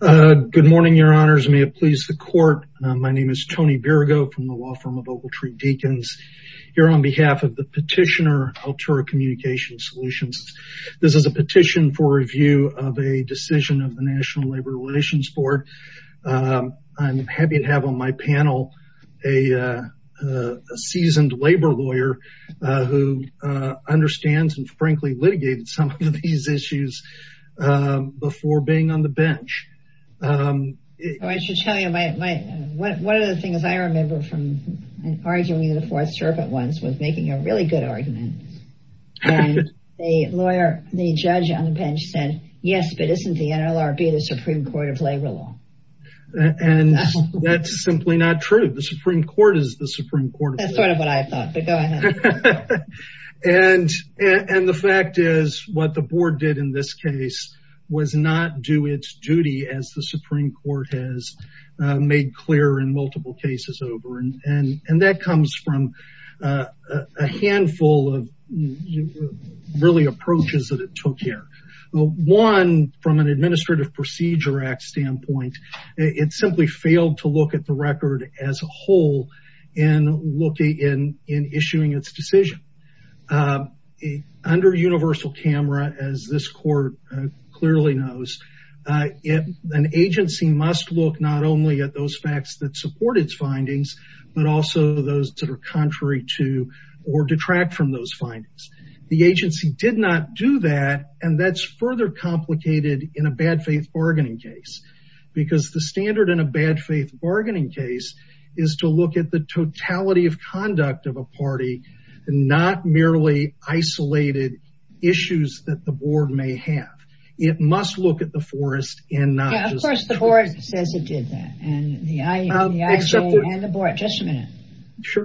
Good morning, your honors. May it please the court. My name is Tony Birgo from the law firm of Ogletree Deacons. Here on behalf of the petitioner, Altura Communication Solutions. This is a petition for review of a decision of the National Labor Relations Board. I'm happy to have on my panel a seasoned labor lawyer who understands and frankly litigated some of these issues before being on the bench. I should tell you, one of the things I remember from arguing in the fourth circuit once was making a really good argument. A lawyer, the judge on the bench said, yes, but isn't the NLRB the Supreme Court of Labor Law? And that's simply not true. The Supreme Court is the Supreme Court. That's sort of what I thought, but go ahead. And the fact is what the board did in this case was not do its duty as the Supreme Court has made clear in multiple cases over. And that comes from a handful of really approaches that it took here. One, from an Administrative Procedure Act standpoint, it simply failed to look at the record as a whole in looking in, in issuing its decision. Under universal camera, as this court clearly knows, an agency must look not only at those facts that support its findings, but also those that are contrary to or detract from those findings. The agency did not do that. And that's further complicated in a bad faith bargaining case. Because the standard in a bad faith bargaining case is to look at the totality of conduct of a party, not merely isolated issues that the board may have. It must look at the forest and not just the court. Yeah, of course the board says it did that. And the IA and the board, just a minute. Sure.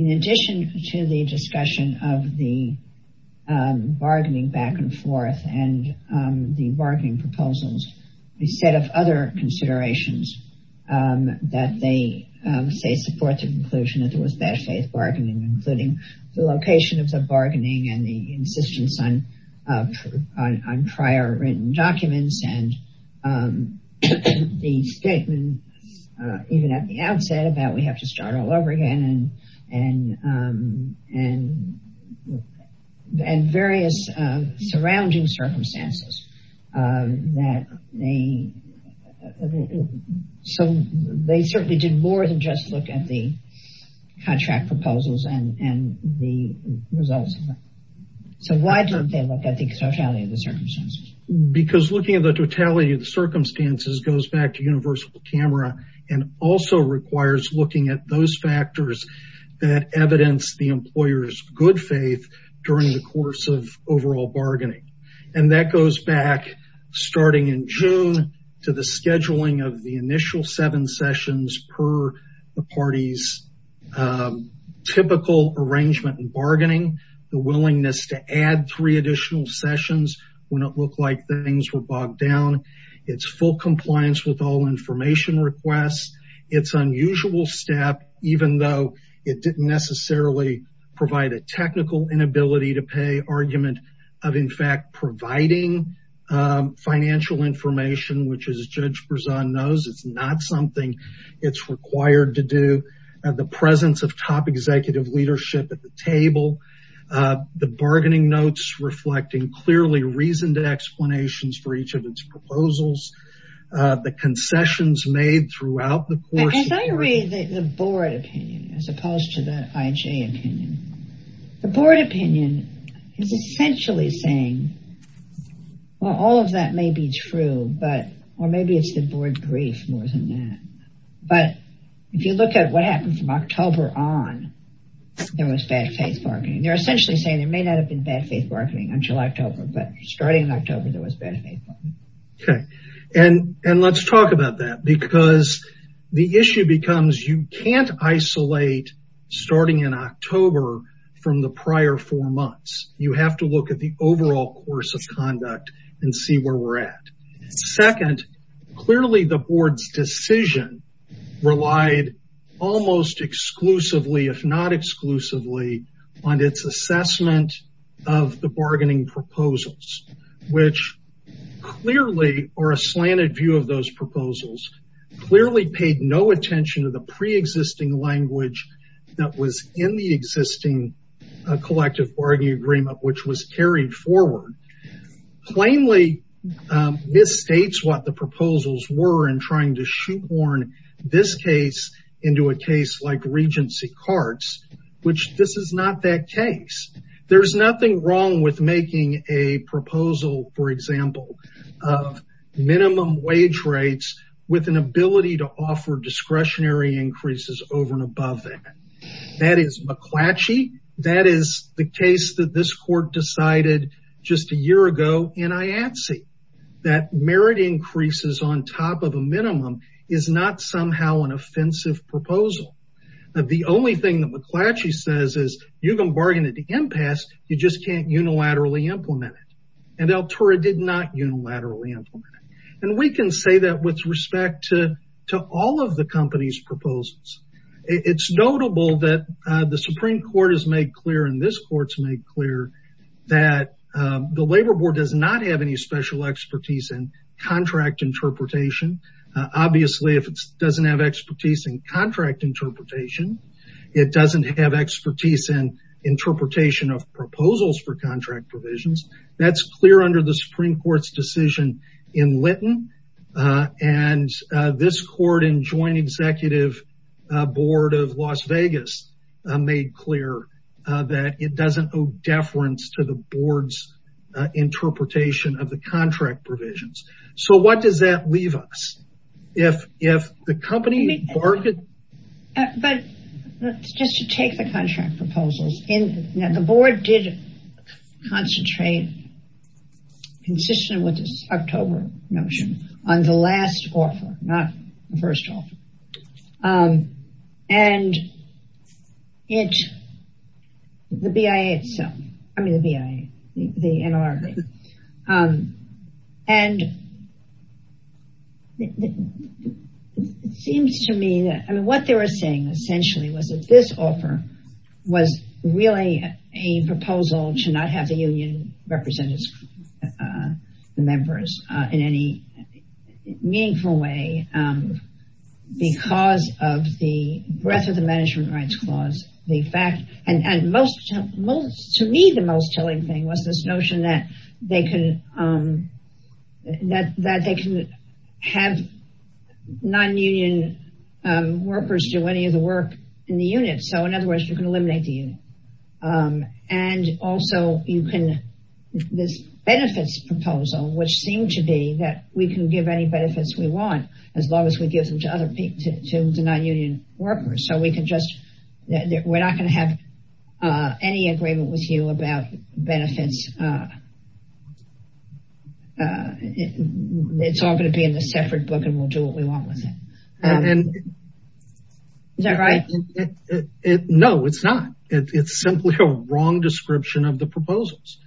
In addition to the discussion of the bargaining back and forth and the bargaining proposals, a set of other considerations that they say support the conclusion that there was bad faith bargaining, including the location of the bargaining and the insistence on prior written documents and the statement, even at the outset, about we have to start all over again and various surrounding circumstances that they, so they certainly did more than just look at the contract proposals and the results. So why don't they look at the totality of the circumstances? Because looking at the totality of the circumstances goes back to universal camera and also requires looking at those factors that evidence the employer's good faith during the course of overall bargaining. And that goes back starting in June to the scheduling of the initial seven sessions per the party's typical arrangement and bargaining, the willingness to add three additional sessions when it looked like things were bogged down, it's full compliance with all information requests, it's unusual step, even though it didn't necessarily provide a technical inability to pay argument of in fact, providing financial information, which is Judge Berzon knows, it's not something it's required to do at the presence of top executive leadership at the table, the bargaining notes, reflecting clearly reason to explanations for each of its proposals, the concessions made throughout the course. As I read the board opinion, as opposed to the IJ opinion, the board opinion is essentially saying, well, all of that may be true, but, or maybe it's the board grief more than that. But if you look at what happened from October on, there was bad faith bargaining. They're essentially saying there may not have been bad faith bargaining until October, but starting in October, there was bad faith. Okay, and let's talk about that because the issue becomes you can't isolate starting in October from the prior four months. You have to look at the overall course of conduct and see where we're at. Second, clearly the board's decision relied almost exclusively, if not exclusively on its assessment of the bargaining proposals, which clearly are a slanted view of those proposals, clearly paid no attention to the preexisting language that was in the existing collective bargaining agreement, which was carried forward. Plainly, this states what the proposals were in trying to shoehorn this case into a case like Regency Carts, which this is not that case. There's nothing wrong with making a proposal, for example, of minimum wage rates with an ability to offer discretionary increases over and above that. That is McClatchy. That is the case that this court decided just a year ago in IATSE, that merit increases on top of a minimum is not somehow an offensive proposal. The only thing that McClatchy says is, you can bargain at the impasse, you just can't unilaterally implement it. And Altura did not unilaterally implement it. And we can say that with respect to all of the company's proposals. It's notable that the Supreme Court has made clear and this court's made clear that the Labor Board does not have any special expertise in contract interpretation. Obviously, if it doesn't have expertise in contract interpretation, it doesn't have expertise in interpretation of proposals for contract provisions. That's clear under the Supreme Court's decision in Lytton. And this court in Joint Executive Board of Las Vegas made clear that it doesn't owe deference to the board's interpretation of the contract provisions. So what does that leave us? If the company bargained- But just to take the contract proposals in, the board did concentrate, consistent with this October motion, on the last offer, not the first offer. And it, the BIA itself, I mean the BIA, the NLRB. And it seems to me that, I mean, what they were saying, essentially, was that this offer was really a proposal to not have the union represent its members in any meaningful way because of the breadth of the Management Rights Clause. The fact, and most, to me, the most telling thing was this notion that they could have non-union workers do any of the work in the unit. So in other words, you can eliminate the unit. And also, you can, this benefits proposal, which seemed to be that we can give any benefits we want as long as we give them to non-union workers. So we can just, we're not gonna have any agreement with you about benefits. It's all gonna be in a separate book and we'll do what we want with it. Is that right? No, it's not. It's simply a wrong description of the proposals.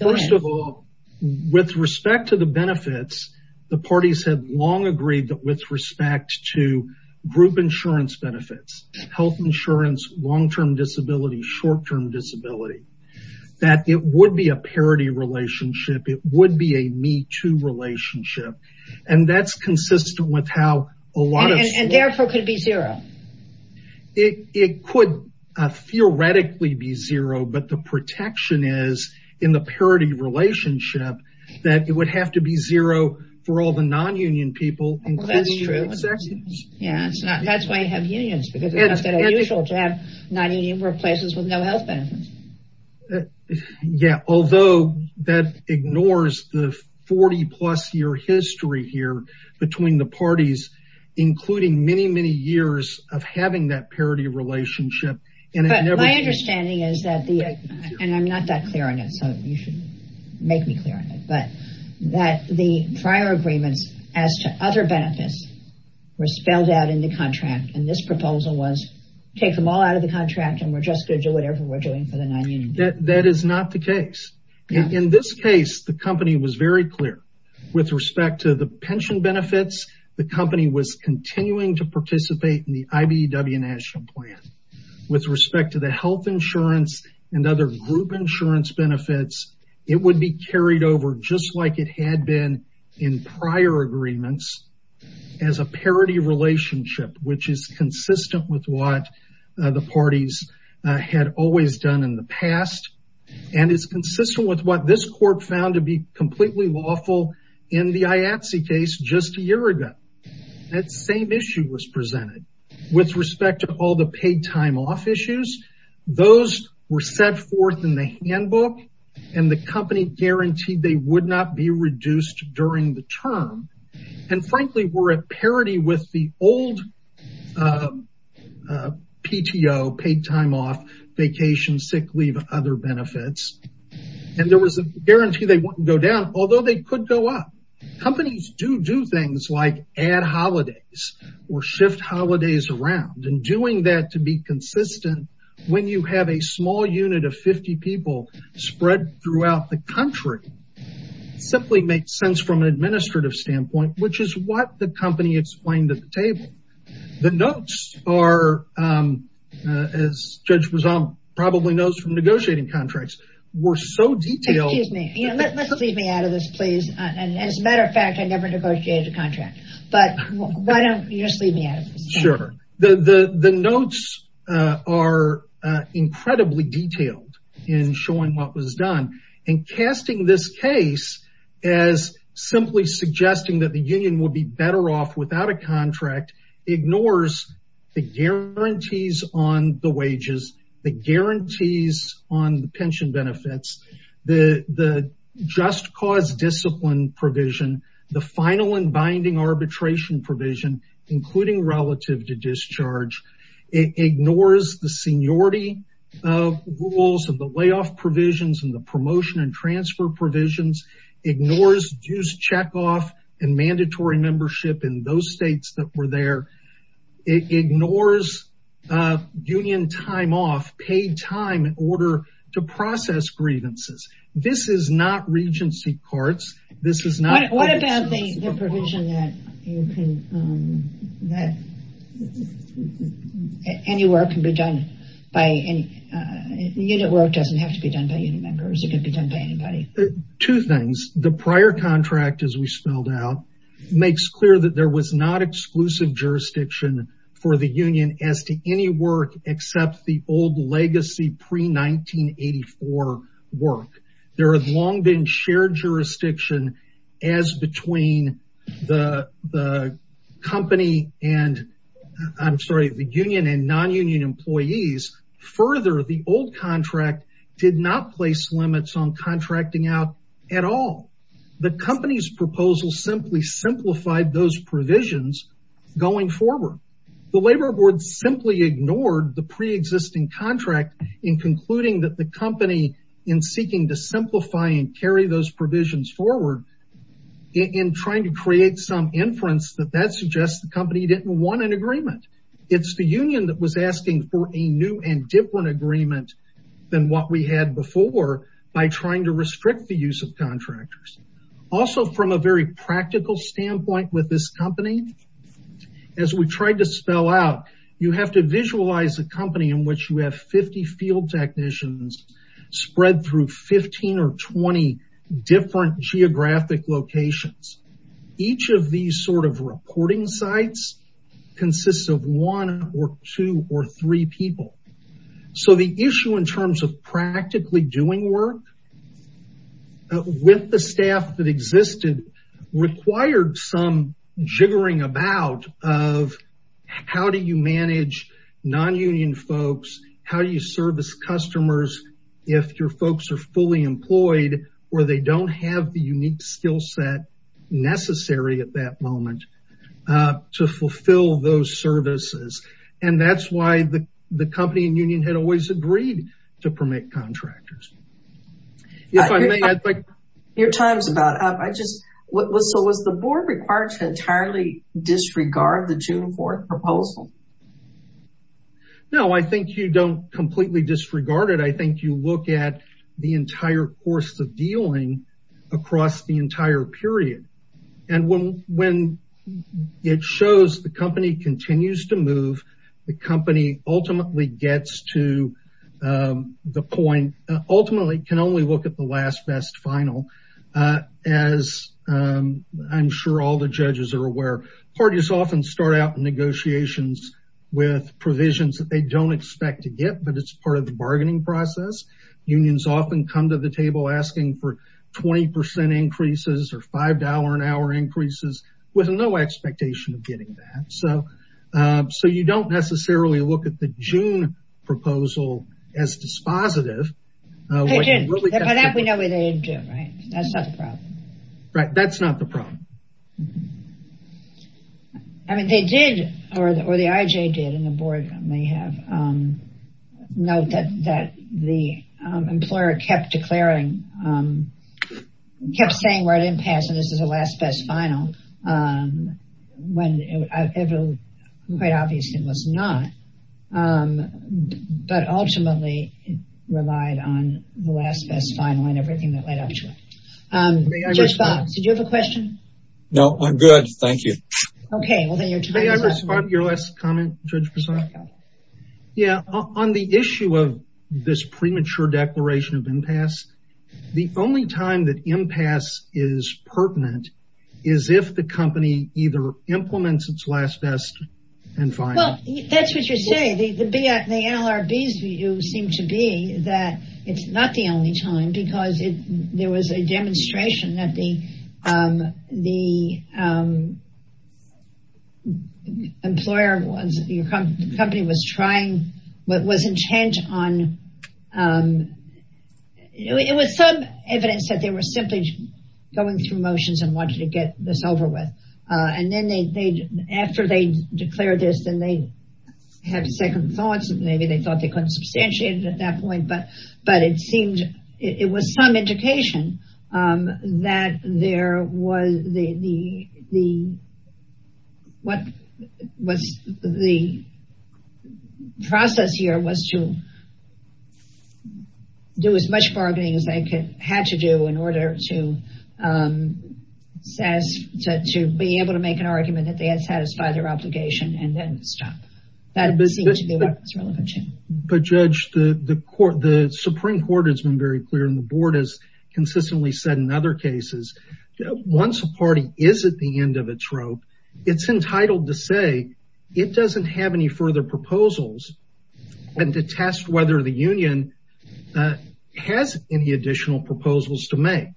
First of all, with respect to the benefits, the parties have long agreed that with respect to group insurance benefits, health insurance, long-term disability, short-term disability, that it would be a parity relationship. It would be a me-too relationship. And that's consistent with how a lot of- And therefore could be zero. It could theoretically be zero, but the protection is in the parity relationship that it would have to be zero for all the non-union people including executives. Yeah, that's why you have unions because it's not that unusual to have non-union workplaces with no health benefits. Yeah, although that ignores the 40 plus year history here between the parties, including many, many years of having that parity relationship. But my understanding is that the, and I'm not that clear on it, so you should make me clear on it, but that the prior agreements as to other benefits were spelled out in the contract. And this proposal was take them all out of the contract and we're just gonna do whatever we're doing for the non-union people. That is not the case. In this case, the company was very clear with respect to the pension benefits, the company was continuing to participate in the IBEW National Plan. With respect to the health insurance and other group insurance benefits, it would be carried over just like it had been in prior agreements as a parity relationship, which is consistent with what the parties had always done in the past. And it's consistent with what this court found to be completely lawful in the IATSE case just a year ago. That same issue was presented. With respect to all the paid time off issues, those were set forth in the handbook and the company guaranteed they would not be reduced during the term. And frankly, we're at parity with the old PTO, paid time off, vacation, sick leave, other benefits. And there was a guarantee they wouldn't go down, although they could go up. Companies do do things like add holidays or shift holidays around. And doing that to be consistent when you have a small unit of 50 people spread throughout the country, simply makes sense from an administrative standpoint, which is what the company explained at the table. The notes are, as Judge Rizal probably knows from negotiating contracts, were so detailed. Excuse me, let's leave me out of this, please. And as a matter of fact, I never negotiated a contract. But why don't you just leave me out of this? Sure. The notes are incredibly detailed in showing what was done. And casting this case as simply suggesting that the union would be better off without a contract ignores the guarantees on the wages, the guarantees on the pension benefits, the just cause discipline provision, the final and binding arbitration provision, including relative to discharge. It ignores the seniority rules of the layoff provisions and the promotion and transfer provisions, ignores dues check off and mandatory membership in those states that were there. It ignores union time off, paid time in order to process grievances. This is not regency courts. This is not- What about the provision that any work can be done by any... Unit work doesn't have to be done by any members. It can be done by anybody. Two things. The prior contract, as we spelled out, makes clear that there was not exclusive jurisdiction for the union as to any work except the old legacy pre-1984 work. There has long been shared jurisdiction as between the company and, I'm sorry, the union and non-union employees. Further, the old contract did not place limits on contracting out at all. The company's proposal simply simplified those provisions going forward. The labor board simply ignored the preexisting contract in concluding that the company, in seeking to simplify and carry those provisions forward, in trying to create some inference that that suggests the company didn't want an agreement. It's the union that was asking for a new and different agreement than what we had before by trying to restrict the use of contractors. Also, from a very practical standpoint with this company, as we tried to spell out, you have to visualize a company in which you have 50 field technicians spread through 15 or 20 different geographic locations. Each of these sort of reporting sites consists of one or two or three people. So the issue in terms of practically doing work with the staff that existed required some jiggering about of how do you manage non-union folks? How do you service customers if your folks are fully employed or they don't have the unique skill set necessary at that moment to fulfill those services? And that's why the company and union had always agreed to permit contractors. If I may, I'd like- Your time's about up. I just, so was the board required to entirely disregard the June 4th proposal? No, I think you don't completely disregard it. I think you look at the entire course of dealing across the entire period. And when it shows the company continues to move, the company ultimately gets to the point, ultimately can only look at the last best final, as I'm sure all the judges are aware. Parties often start out in negotiations with provisions that they don't expect to get, but it's part of the bargaining process. Unions often come to the table asking for 20% increases or $5 an hour increases with no expectation of getting that. So, you don't necessarily look at the June proposal as dispositive. They didn't. By that we know what they didn't do, right? That's not the problem. Right, that's not the problem. I mean, they did, or the IJ did, and the board may have, note that the employer kept declaring, kept saying we're at impasse and this is the last best final, when quite obviously it was not. But ultimately, it relied on the last best final and everything that led up to it. Judge Bob, did you have a question? No, I'm good, thank you. Okay, well then you're time is up. May I respond to your last comment, Judge Prasad? Yeah, on the issue of this premature declaration of impasse, the only time that impasse is pertinent is if the company either implements its last best and final. Well, that's what you're saying. The NLRB's view seemed to be that it's not the only time because there was a demonstration that the employer was, the company was trying, was intent on, it was some evidence that they were simply going through motions and wanted to get this over with. And then they, after they declared this, then they had second thoughts. Maybe they thought they couldn't substantiate it at that point, but it seemed, it was some indication that there was the, what was the process here was to do as much bargaining as they had to do in order to be able to make an argument that they had satisfied their obligation and then stop. That seemed to be what was relevant to them. But Judge, the Supreme Court has been very clear and the board has consistently said in other cases, once a party is at the end of its rope, it's entitled to say it doesn't have any further proposals and to test whether the union has any additional proposals to make.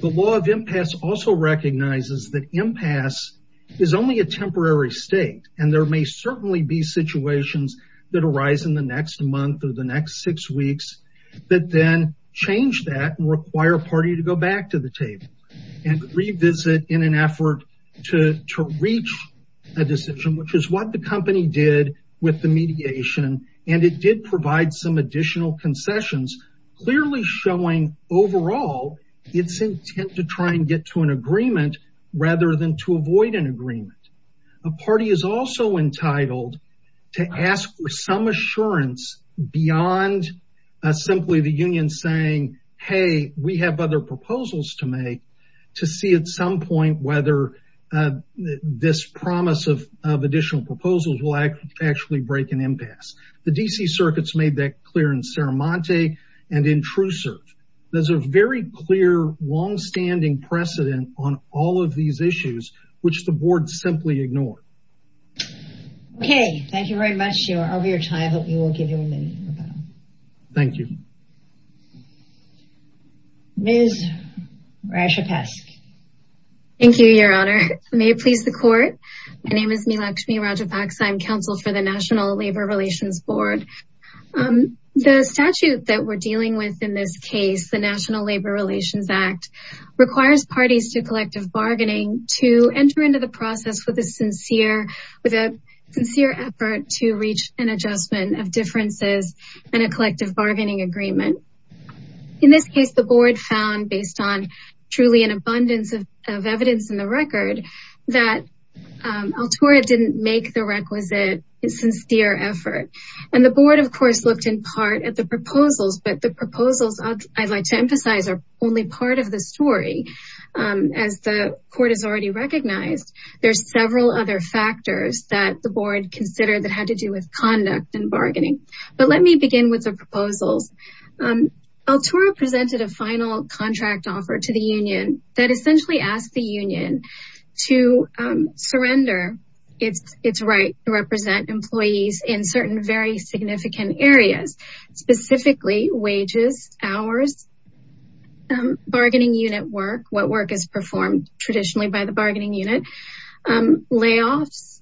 The law of impasse also recognizes that impasse is only a temporary state. And there may certainly be situations that arise in the next month or the next six weeks that then change that and require a party to go back to the table and revisit in an effort to reach a decision, which is what the company did with the mediation. And it did provide some additional concessions, clearly showing overall, it's intent to try and get to an agreement rather than to avoid an agreement. A party is also entitled to ask for some assurance beyond simply the union saying, hey, we have other proposals to make to see at some point whether this promise of additional proposals will actually break an impasse. The DC circuits made that clear in Saramonte and in Truesurf. There's a very clear longstanding precedent on all of these issues, which the board simply ignored. Okay, thank you very much. You're over your time. I hope you will give your amendment. Thank you. Ms. Rajapaksa. Thank you, your honor. May it please the court. My name is Meelakshmi Rajapaksa. I'm counsel for the National Labor Relations Board. The statute that we're dealing with in this case, the National Labor Relations Act, requires parties to collective bargaining to enter into the process with a sincere effort to reach an adjustment of differences and a collective bargaining agreement. In this case, the board found based on truly an abundance of evidence in the record that Altura didn't make the requisite sincere effort. And the board of course looked in part at the proposals, but the proposals I'd like to emphasize are only part of the story. As the court has already recognized, there's several other factors that the board considered that had to do with conduct and bargaining. But let me begin with the proposals. Altura presented a final contract offer to the union that essentially asked the union to surrender its right to represent employees in certain very significant areas, specifically wages, hours, bargaining unit work, what work is performed traditionally by the bargaining unit, layoffs,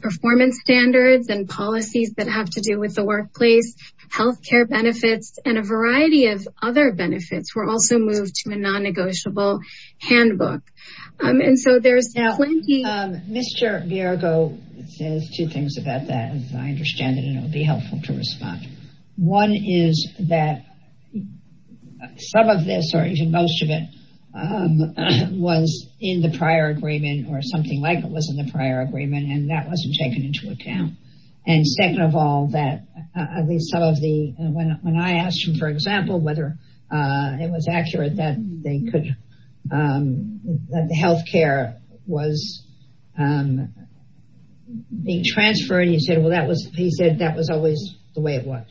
performance standards and policies that have to do with the workplace, healthcare benefits and a variety of other benefits were also moved to a non-negotiable handbook. And so there's plenty- Mr. Biargo says two things about that, as I understand it and it'll be helpful to respond. One is that some of this or even most of it was in the prior agreement or something like it was in the prior agreement and that wasn't taken into account. And second of all, that at least some of the, when I asked him, for example, whether it was accurate that the healthcare was being transferred, he said, well, he said that was always the way it was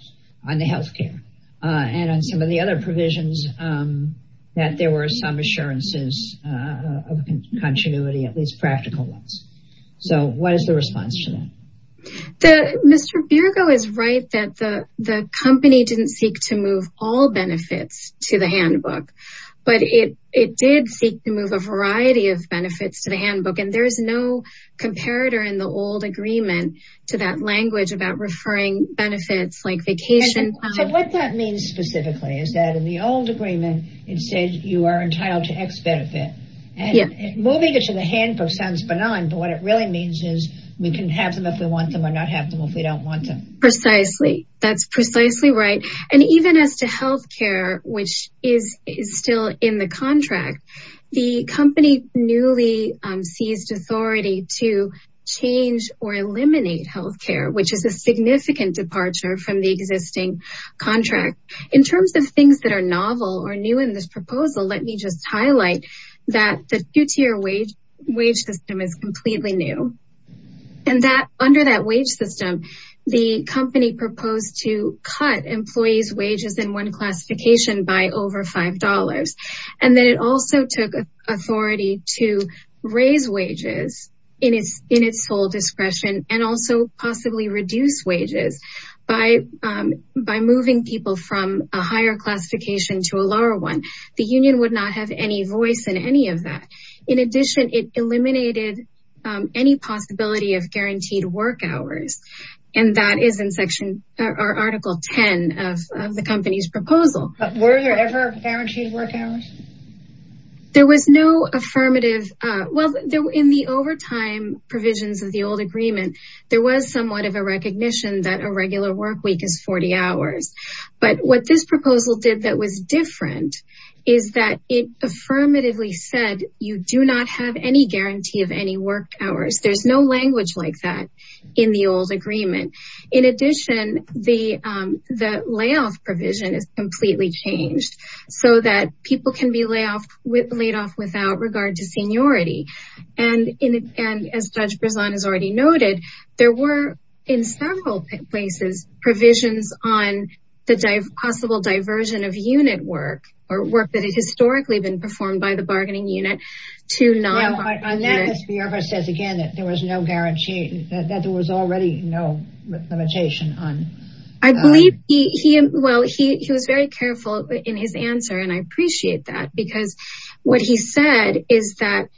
on the healthcare and on some of the other provisions that there were some assurances of continuity, at least practical ones. So what is the response to that? Mr. Biargo is right that the company didn't seek to move all benefits to the handbook, but it did seek to move a variety of benefits to the handbook. And there is no comparator in the old agreement to that language about referring benefits like vacation. So what that means specifically is that in the old agreement, it said you are entitled to X benefit and moving it to the handbook sounds benign, but what it really means is we can have them if we want them or not have them if we don't want them. Precisely, that's precisely right. And even as to healthcare, which is still in the contract, the company newly seized authority to change or eliminate healthcare, which is a significant departure from the existing contract. In terms of things that are novel or new in this proposal, let me just highlight that the two-tier wage system is completely new. And under that wage system, the company proposed to cut employees' wages in one classification by over $5. And then it also took authority to raise wages in its full discretion and also possibly reduce wages by moving people from a higher classification to a lower one. The union would not have any voice in any of that. In addition, it eliminated any possibility of guaranteed work hours. And that is in article 10 of the company's proposal. Were there ever guaranteed work hours? There was no affirmative. Well, in the overtime provisions of the old agreement, there was somewhat of a recognition that a regular work week is 40 hours. But what this proposal did that was different is that it affirmatively said, you do not have any guarantee of any work hours. There's no language like that in the old agreement. In addition, the layoff provision is completely changed so that people can be laid off without regard to seniority. And as Judge Berzon has already noted, there were in several places provisions on the possible diversion of unit work or work that had historically been performed by the bargaining unit to non-bargaining unit. On that, Ms. Bierba says again that there was no guarantee, that there was already no limitation on- I believe he, well, he was very careful in his answer. And I appreciate that because what he said is that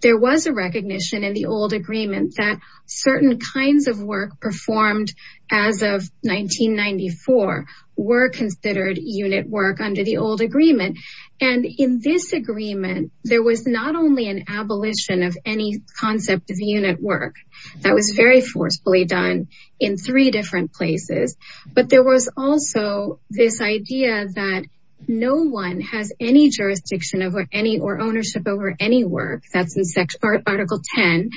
there was a recognition in the old agreement that certain kinds of work performed as of 1994 were considered unit work under the old agreement. And in this agreement, there was not only an abolition of any concept of unit work that was very forcefully done in three different places, but there was also this idea that no one has any jurisdiction over any, or ownership over any work that's in article 10.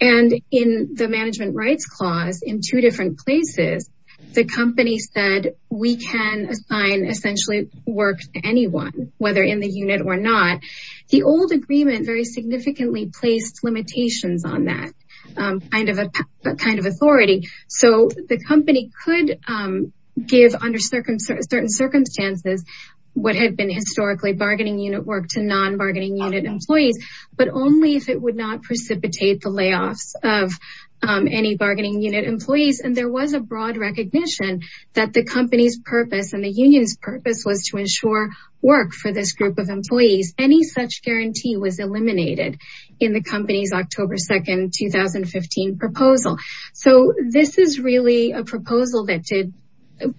And in the management rights clause in two different places, the company said we can assign essentially work to anyone, whether in the unit or not. The old agreement very significantly placed limitations on that kind of authority. So the company could give under certain circumstances what had been historically bargaining unit work to non-bargaining unit employees, but only if it would not precipitate the layoffs of any bargaining unit employees. And there was a broad recognition that the company's purpose and the union's purpose was to ensure work for this group of employees. Any such guarantee was eliminated in the company's October 2nd, 2015 proposal. So this is really a proposal that did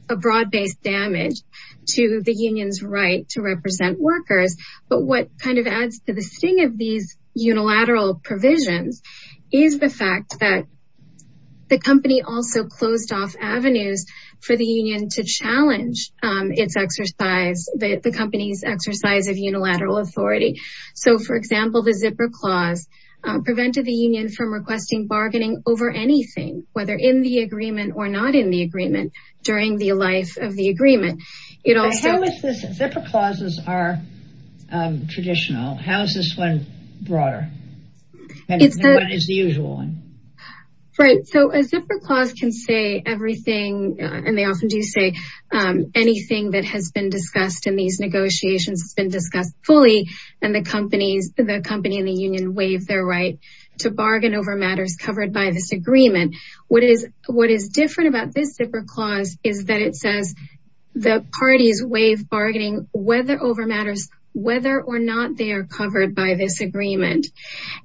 a broad-based damage to the union's right to represent workers. But what kind of adds to the sting of these unilateral provisions is the fact that the company also closed off avenues for the union to challenge its exercise, the company's exercise of unilateral authority. So for example, the zipper clause prevented the union from requesting bargaining over anything, whether in the agreement or not in the agreement during the life of the agreement. It also- How is this, zipper clauses are traditional. How is this one broader? And what is the usual one? Right, so a zipper clause can say everything, and they often do say anything that has been discussed in these negotiations has been discussed fully and the company and the union waive their right to bargain over matters covered by this agreement. What is different about this zipper clause is that it says the parties waive bargaining whether over matters, whether or not they are covered by this agreement.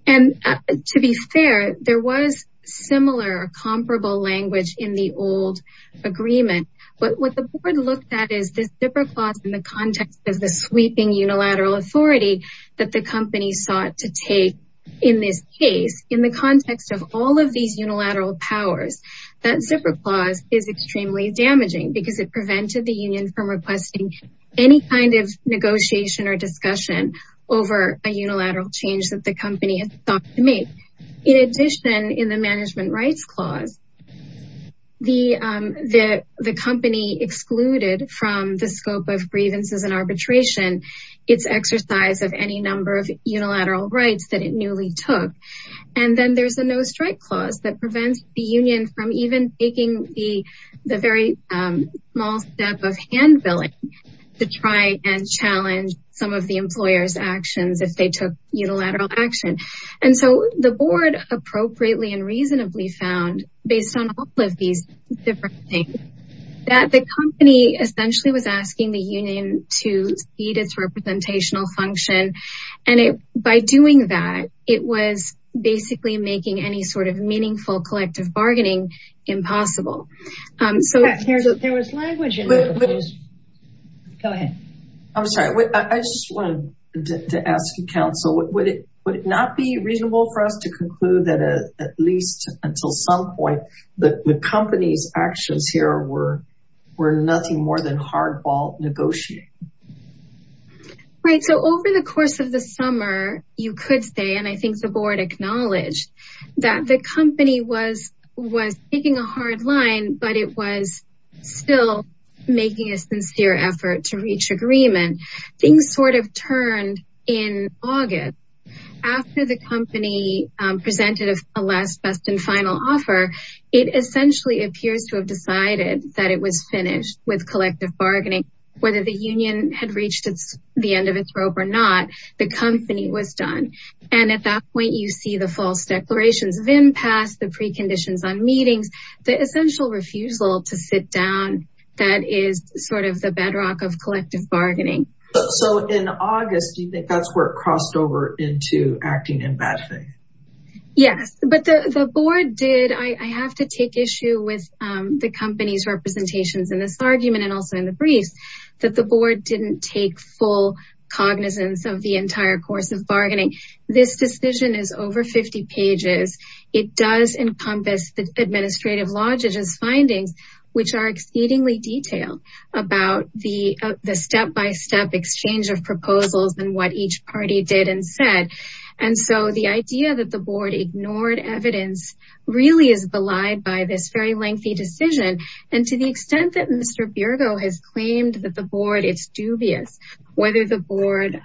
And to be fair, there was similar or comparable language in the old agreement. But what the board looked at is this zipper clause in the context of the sweeping unilateral authority that the company sought to take in this case, in the context of all of these unilateral powers, that zipper clause is extremely damaging because it prevented the union from requesting any kind of negotiation or discussion over a unilateral change that the company has thought to make. In addition, in the management rights clause, the company excluded from the scope of grievances and arbitration, its exercise of any number of unilateral rights that it newly took. And then there's a no strike clause that prevents the union from even taking the very small step of hand-billing to try and challenge some of the employer's actions if they took unilateral action. And so the board appropriately and reasonably found based on all of these different things that the company essentially was asking the union to speed its representational function. And by doing that, it was basically making any sort of meaningful collective bargaining impossible. So- There was language in there, please. Go ahead. I'm sorry, I just wanted to ask you, counsel, would it not be reasonable for us to conclude that at least until some point, the company's actions here were nothing more than hardball negotiating? Right, so over the course of the summer, you could say, and I think the board acknowledged that the company was taking a hard line, but it was still making a sincere effort to reach agreement. Things sort of turned in August after the company presented a last, best, and final offer, it essentially appears to have decided that it was finished with collective bargaining. Whether the union had reached the end of its rope or not, the company was done. And at that point, you see the false declarations of impasse, the preconditions on meetings, the essential refusal to sit down that is sort of the bedrock of collective bargaining. So in August, do you think that's where it crossed over into acting in bad faith? Yes, but the board did, I have to take issue with the company's representations in this argument and also in the briefs, that the board didn't take full cognizance of the entire course of bargaining. This decision is over 50 pages. It does encompass the administrative logistics findings, which are exceedingly detailed about the step-by-step exchange of proposals and what each party did and said. And so the idea that the board ignored evidence really is belied by this very lengthy decision. And to the extent that Mr. Biergo has claimed that the board is dubious, whether the board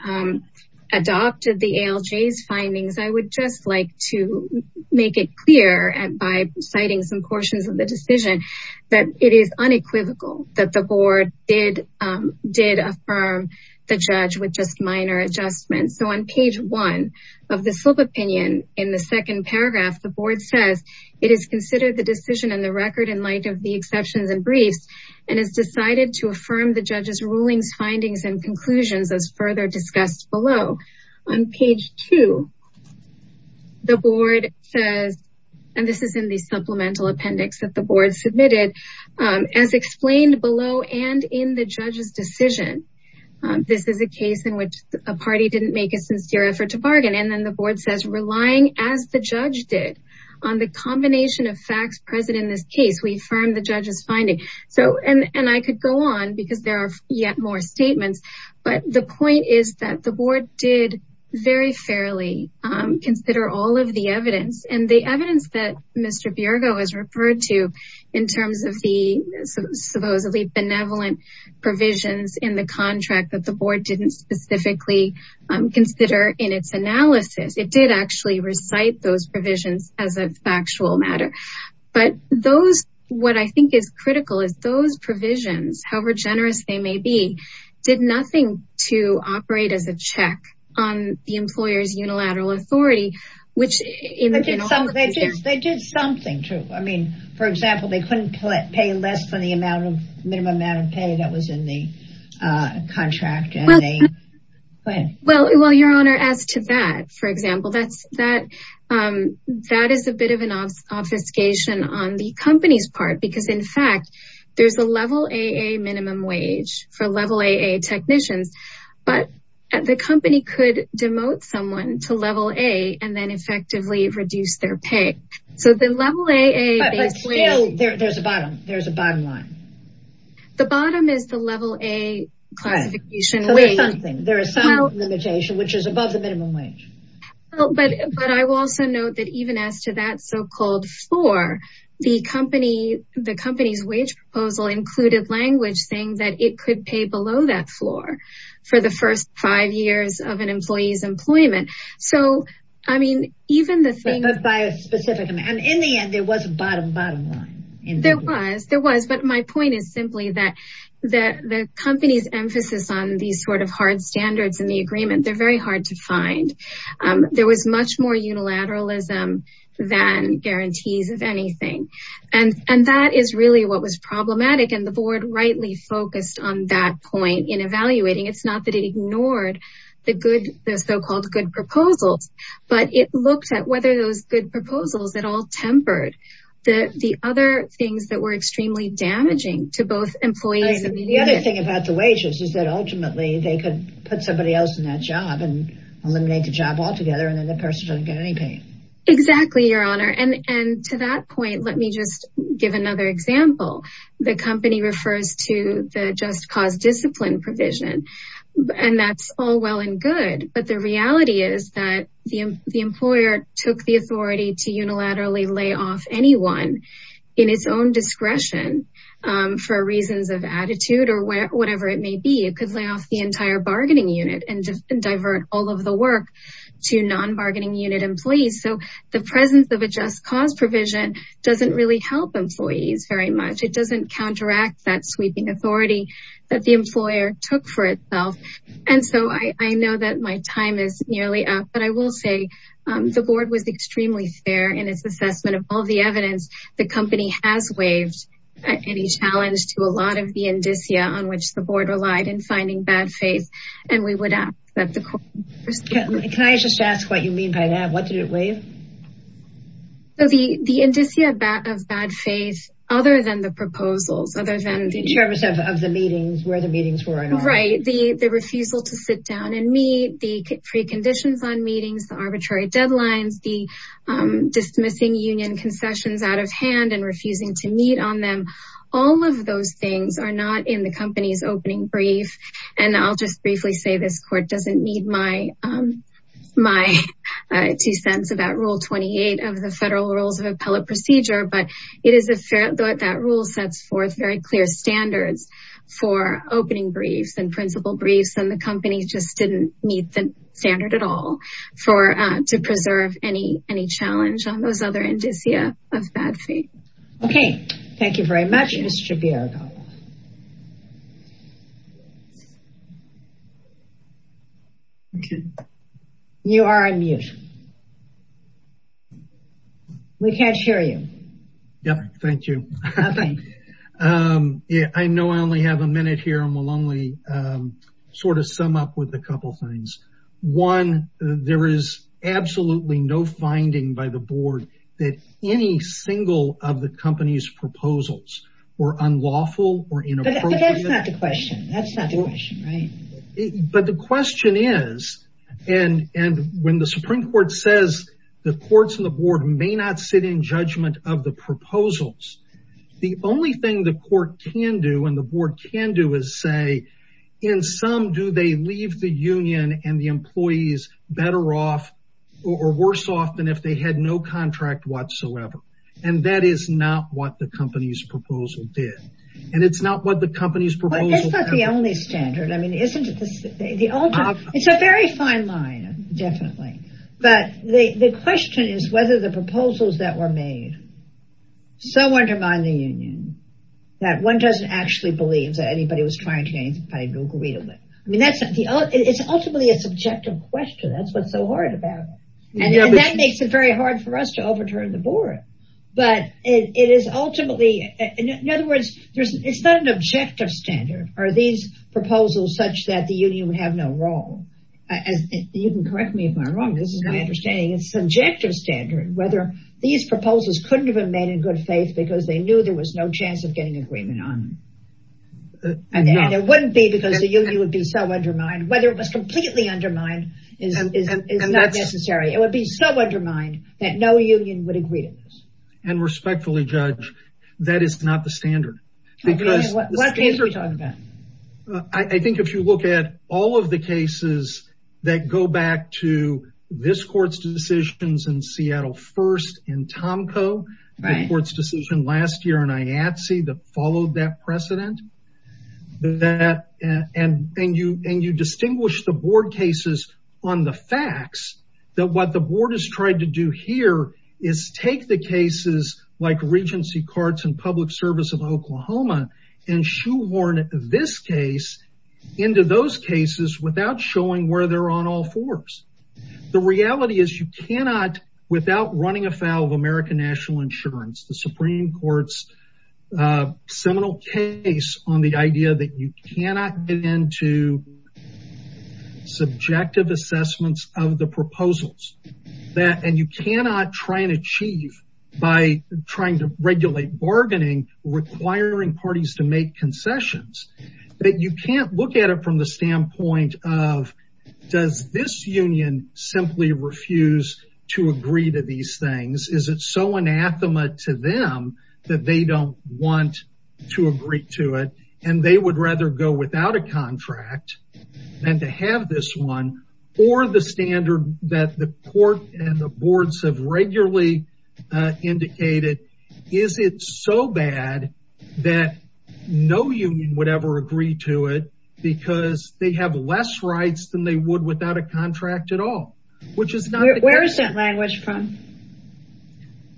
adopted the ALJ's findings, I would just like to make it clear by citing some portions of the decision that it is unequivocal that the board did affirm the judge with just minor adjustments. So on page one of the slope opinion in the second paragraph, the board says, it is considered the decision in the record and has decided to affirm the judge's rulings, findings and conclusions as further discussed below. On page two, the board says, and this is in the supplemental appendix that the board submitted, as explained below and in the judge's decision, this is a case in which a party didn't make a sincere effort to bargain. And then the board says, relying as the judge did on the combination of facts present in this case, we affirm the judge's finding. So, and I could go on because there are yet more statements, but the point is that the board did very fairly consider all of the evidence and the evidence that Mr. Biergo has referred to in terms of the supposedly benevolent provisions in the contract that the board didn't specifically consider in its analysis. It did actually recite those provisions as a factual matter. But those, what I think is critical is those provisions, however generous they may be, did nothing to operate as a check on the employer's unilateral authority, which in the general- They did something to, I mean, for example, they couldn't pay less than the minimum amount of pay that was in the contract and they, go ahead. Well, your honor, as to that, for example, that is a bit of an obfuscation on the company's part, because in fact, there's a level AA minimum wage for level AA technicians, but the company could demote someone to level A and then effectively reduce their pay. So the level AA- But still, there's a bottom line. The bottom is the level A classification wage. So there's something, there is some limitation, which is above the minimum wage. But I will also note that even as to that so-called floor, the company's wage proposal included language saying that it could pay below that floor for the first five years of an employee's employment. So, I mean, even the thing- But by a specific amount. And in the end, there was a bottom, bottom line. There was, there was. But my point is simply that the company's emphasis on these sort of hard standards in the agreement, they're very hard to find. There was much more unilateralism than guarantees of anything. And that is really what was problematic. And the board rightly focused on that point in evaluating. It's not that it ignored the good, the so-called good proposals, but it looked at whether those good proposals at all tempered the other things that were extremely damaging to both employees and- The other thing about the wages is that ultimately they could put somebody else in that job and eliminate the job altogether. And then the person doesn't get any pay. Exactly, Your Honor. And to that point, let me just give another example. The company refers to the Just Cause Discipline provision, and that's all well and good. But the reality is that the employer took the authority to unilaterally lay off anyone in its own discretion for reasons of attitude or whatever it may be. It could lay off the entire bargaining unit and divert all of the work to non-bargaining unit employees. So the presence of a Just Cause provision doesn't really help employees very much. It doesn't counteract that sweeping authority that the employer took for itself. And so I know that my time is nearly up, but I will say the board was extremely fair in its assessment of all the evidence. The company has waived any challenge to a lot of the indicia on which the board relied in finding bad faith. And we would ask that the court- Can I just ask what you mean by that? What did it waive? So the indicia of bad faith, other than the proposals, other than the- In terms of the meetings, where the meetings were and all. Right, the refusal to sit down and meet, the preconditions on meetings, the arbitrary deadlines, the dismissing union concessions out of hand and refusing to meet on them. All of those things are not in the company's opening brief. And I'll just briefly say, this court doesn't need my two cents about Rule 28 of the Federal Rules of Appellate Procedure, but that rule sets forth very clear standards for opening briefs and principal briefs. And the company just didn't meet the standard at all to preserve any challenge on those other indicia of bad faith. Okay, thank you very much. Mr. Villarreal. You are on mute. We can't hear you. Yep, thank you. Okay. I know I only have a minute here and we'll only sort of sum up with a couple of things. One, there is absolutely no finding by the board that any single of the company's proposals were unlawful or inappropriate. But that's not the question. That's not the question, right? But the question is, and when the Supreme Court says the courts and the board may not sit in judgment of the proposals, the only thing the court can do and the board can do is say, in sum, do they leave the union and the employees better off or worse off than if they had no contract whatsoever? And that is not what the company's proposal did. And it's not what the company's proposal- But that's not the only standard. I mean, isn't it the ultimate? It's a very fine line, definitely. But the question is whether the proposals that were made so undermine the union that one doesn't actually believe that anybody was trying to do anything by no greed of it. I mean, it's ultimately a subjective question. That's what's so horrid about it. And that makes it very hard for us to overturn the board. But it is ultimately, in other words, it's not an objective standard. Are these proposals such that the union would have no role? You can correct me if I'm wrong. This is my understanding. It's subjective standard. Whether these proposals couldn't have been made in good faith because they knew there was no chance of getting agreement on them. And there wouldn't be because the union would be so undermined. Whether it was completely undermined is not necessary. It would be so undermined that no union would agree to this. And respectfully, Judge, that is not the standard. Okay, and what case are we talking about? I think if you look at all of the cases that go back to this court's decisions in Seattle First and Tomco, the court's decision last year in IATSE that followed that precedent. And you distinguish the board cases on the facts that what the board has tried to do here is take the cases like Regency Carts and Public Service of Oklahoma and shoehorn this case into those cases without showing where they're on all fours. The reality is you cannot, without running afoul of American National Insurance, the Supreme Court's seminal case on the idea that you cannot get into subjective assessments of the proposals and you cannot try and achieve by trying to regulate bargaining, requiring parties to make concessions, that you can't look at it from the standpoint of, does this union simply refuse to agree to these things? Is it so anathema to them that they don't want to agree to it and they would rather go without a contract than to have this one? Or the standard that the court and the boards have regularly indicated, is it so bad that no union would ever agree to it because they have less rights than they would without a contract at all? Which is not the case. Where is that language from?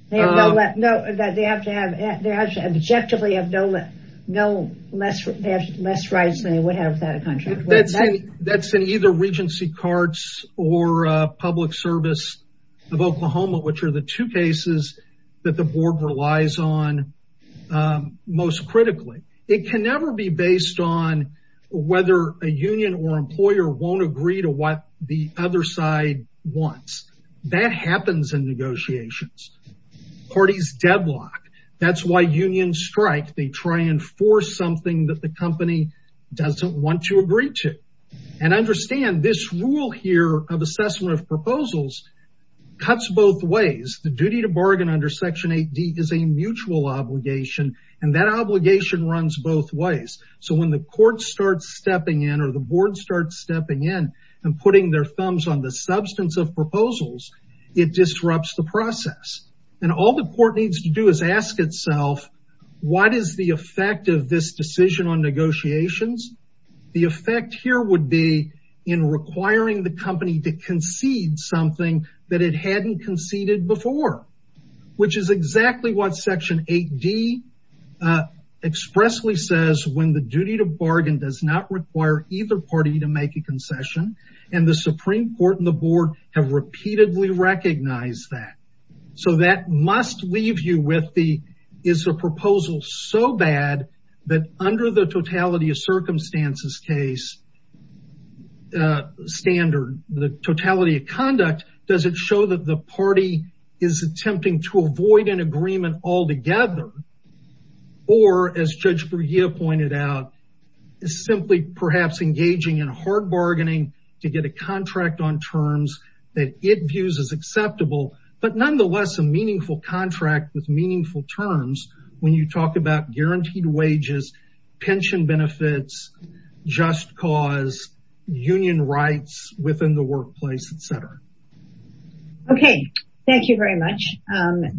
They have no, no, they have to have, they have to objectively have no less rights than they would have without a contract. That's in either Regency Carts or Public Service of Oklahoma, which are the two cases that the board relies on most critically. It can never be based on whether a union or employer won't agree to what the other side wants. That happens in negotiations. Parties deadlock. That's why unions strike. They try and force something that the company doesn't want to agree to. And understand this rule here of assessment of proposals cuts both ways. The duty to bargain under Section 8D is a mutual obligation and that obligation runs both ways. So when the court starts stepping in or the board starts stepping in and putting their thumbs on the substance of proposals, it disrupts the process. And all the court needs to do is ask itself, what is the effect of this decision on negotiations? The effect here would be in requiring the company to concede something that it hadn't conceded before. Which is exactly what Section 8D expressly says when the duty to bargain does not require either party to make a concession. And the Supreme Court and the board have repeatedly recognized that. So that must leave you with the, is the proposal so bad that under the totality of circumstances case standard, the totality of conduct, does it show that the party is attempting to avoid an agreement altogether? Or as Judge Brugia pointed out, is simply perhaps engaging in hard bargaining to get a contract on terms that it views as acceptable, but nonetheless a meaningful contract with meaningful terms when you talk about guaranteed wages, pension benefits, just cause, union rights within the workplace, et cetera. Okay, thank you very much.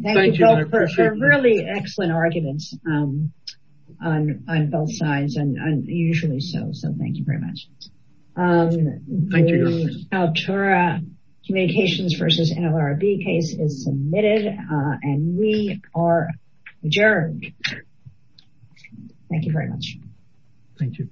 Thank you both for really excellent arguments on both sides and usually so. So thank you very much. Thank you. The Al-Turah Communications versus NLRB case is submitted and we are adjourned. Thank you very much. Thank you.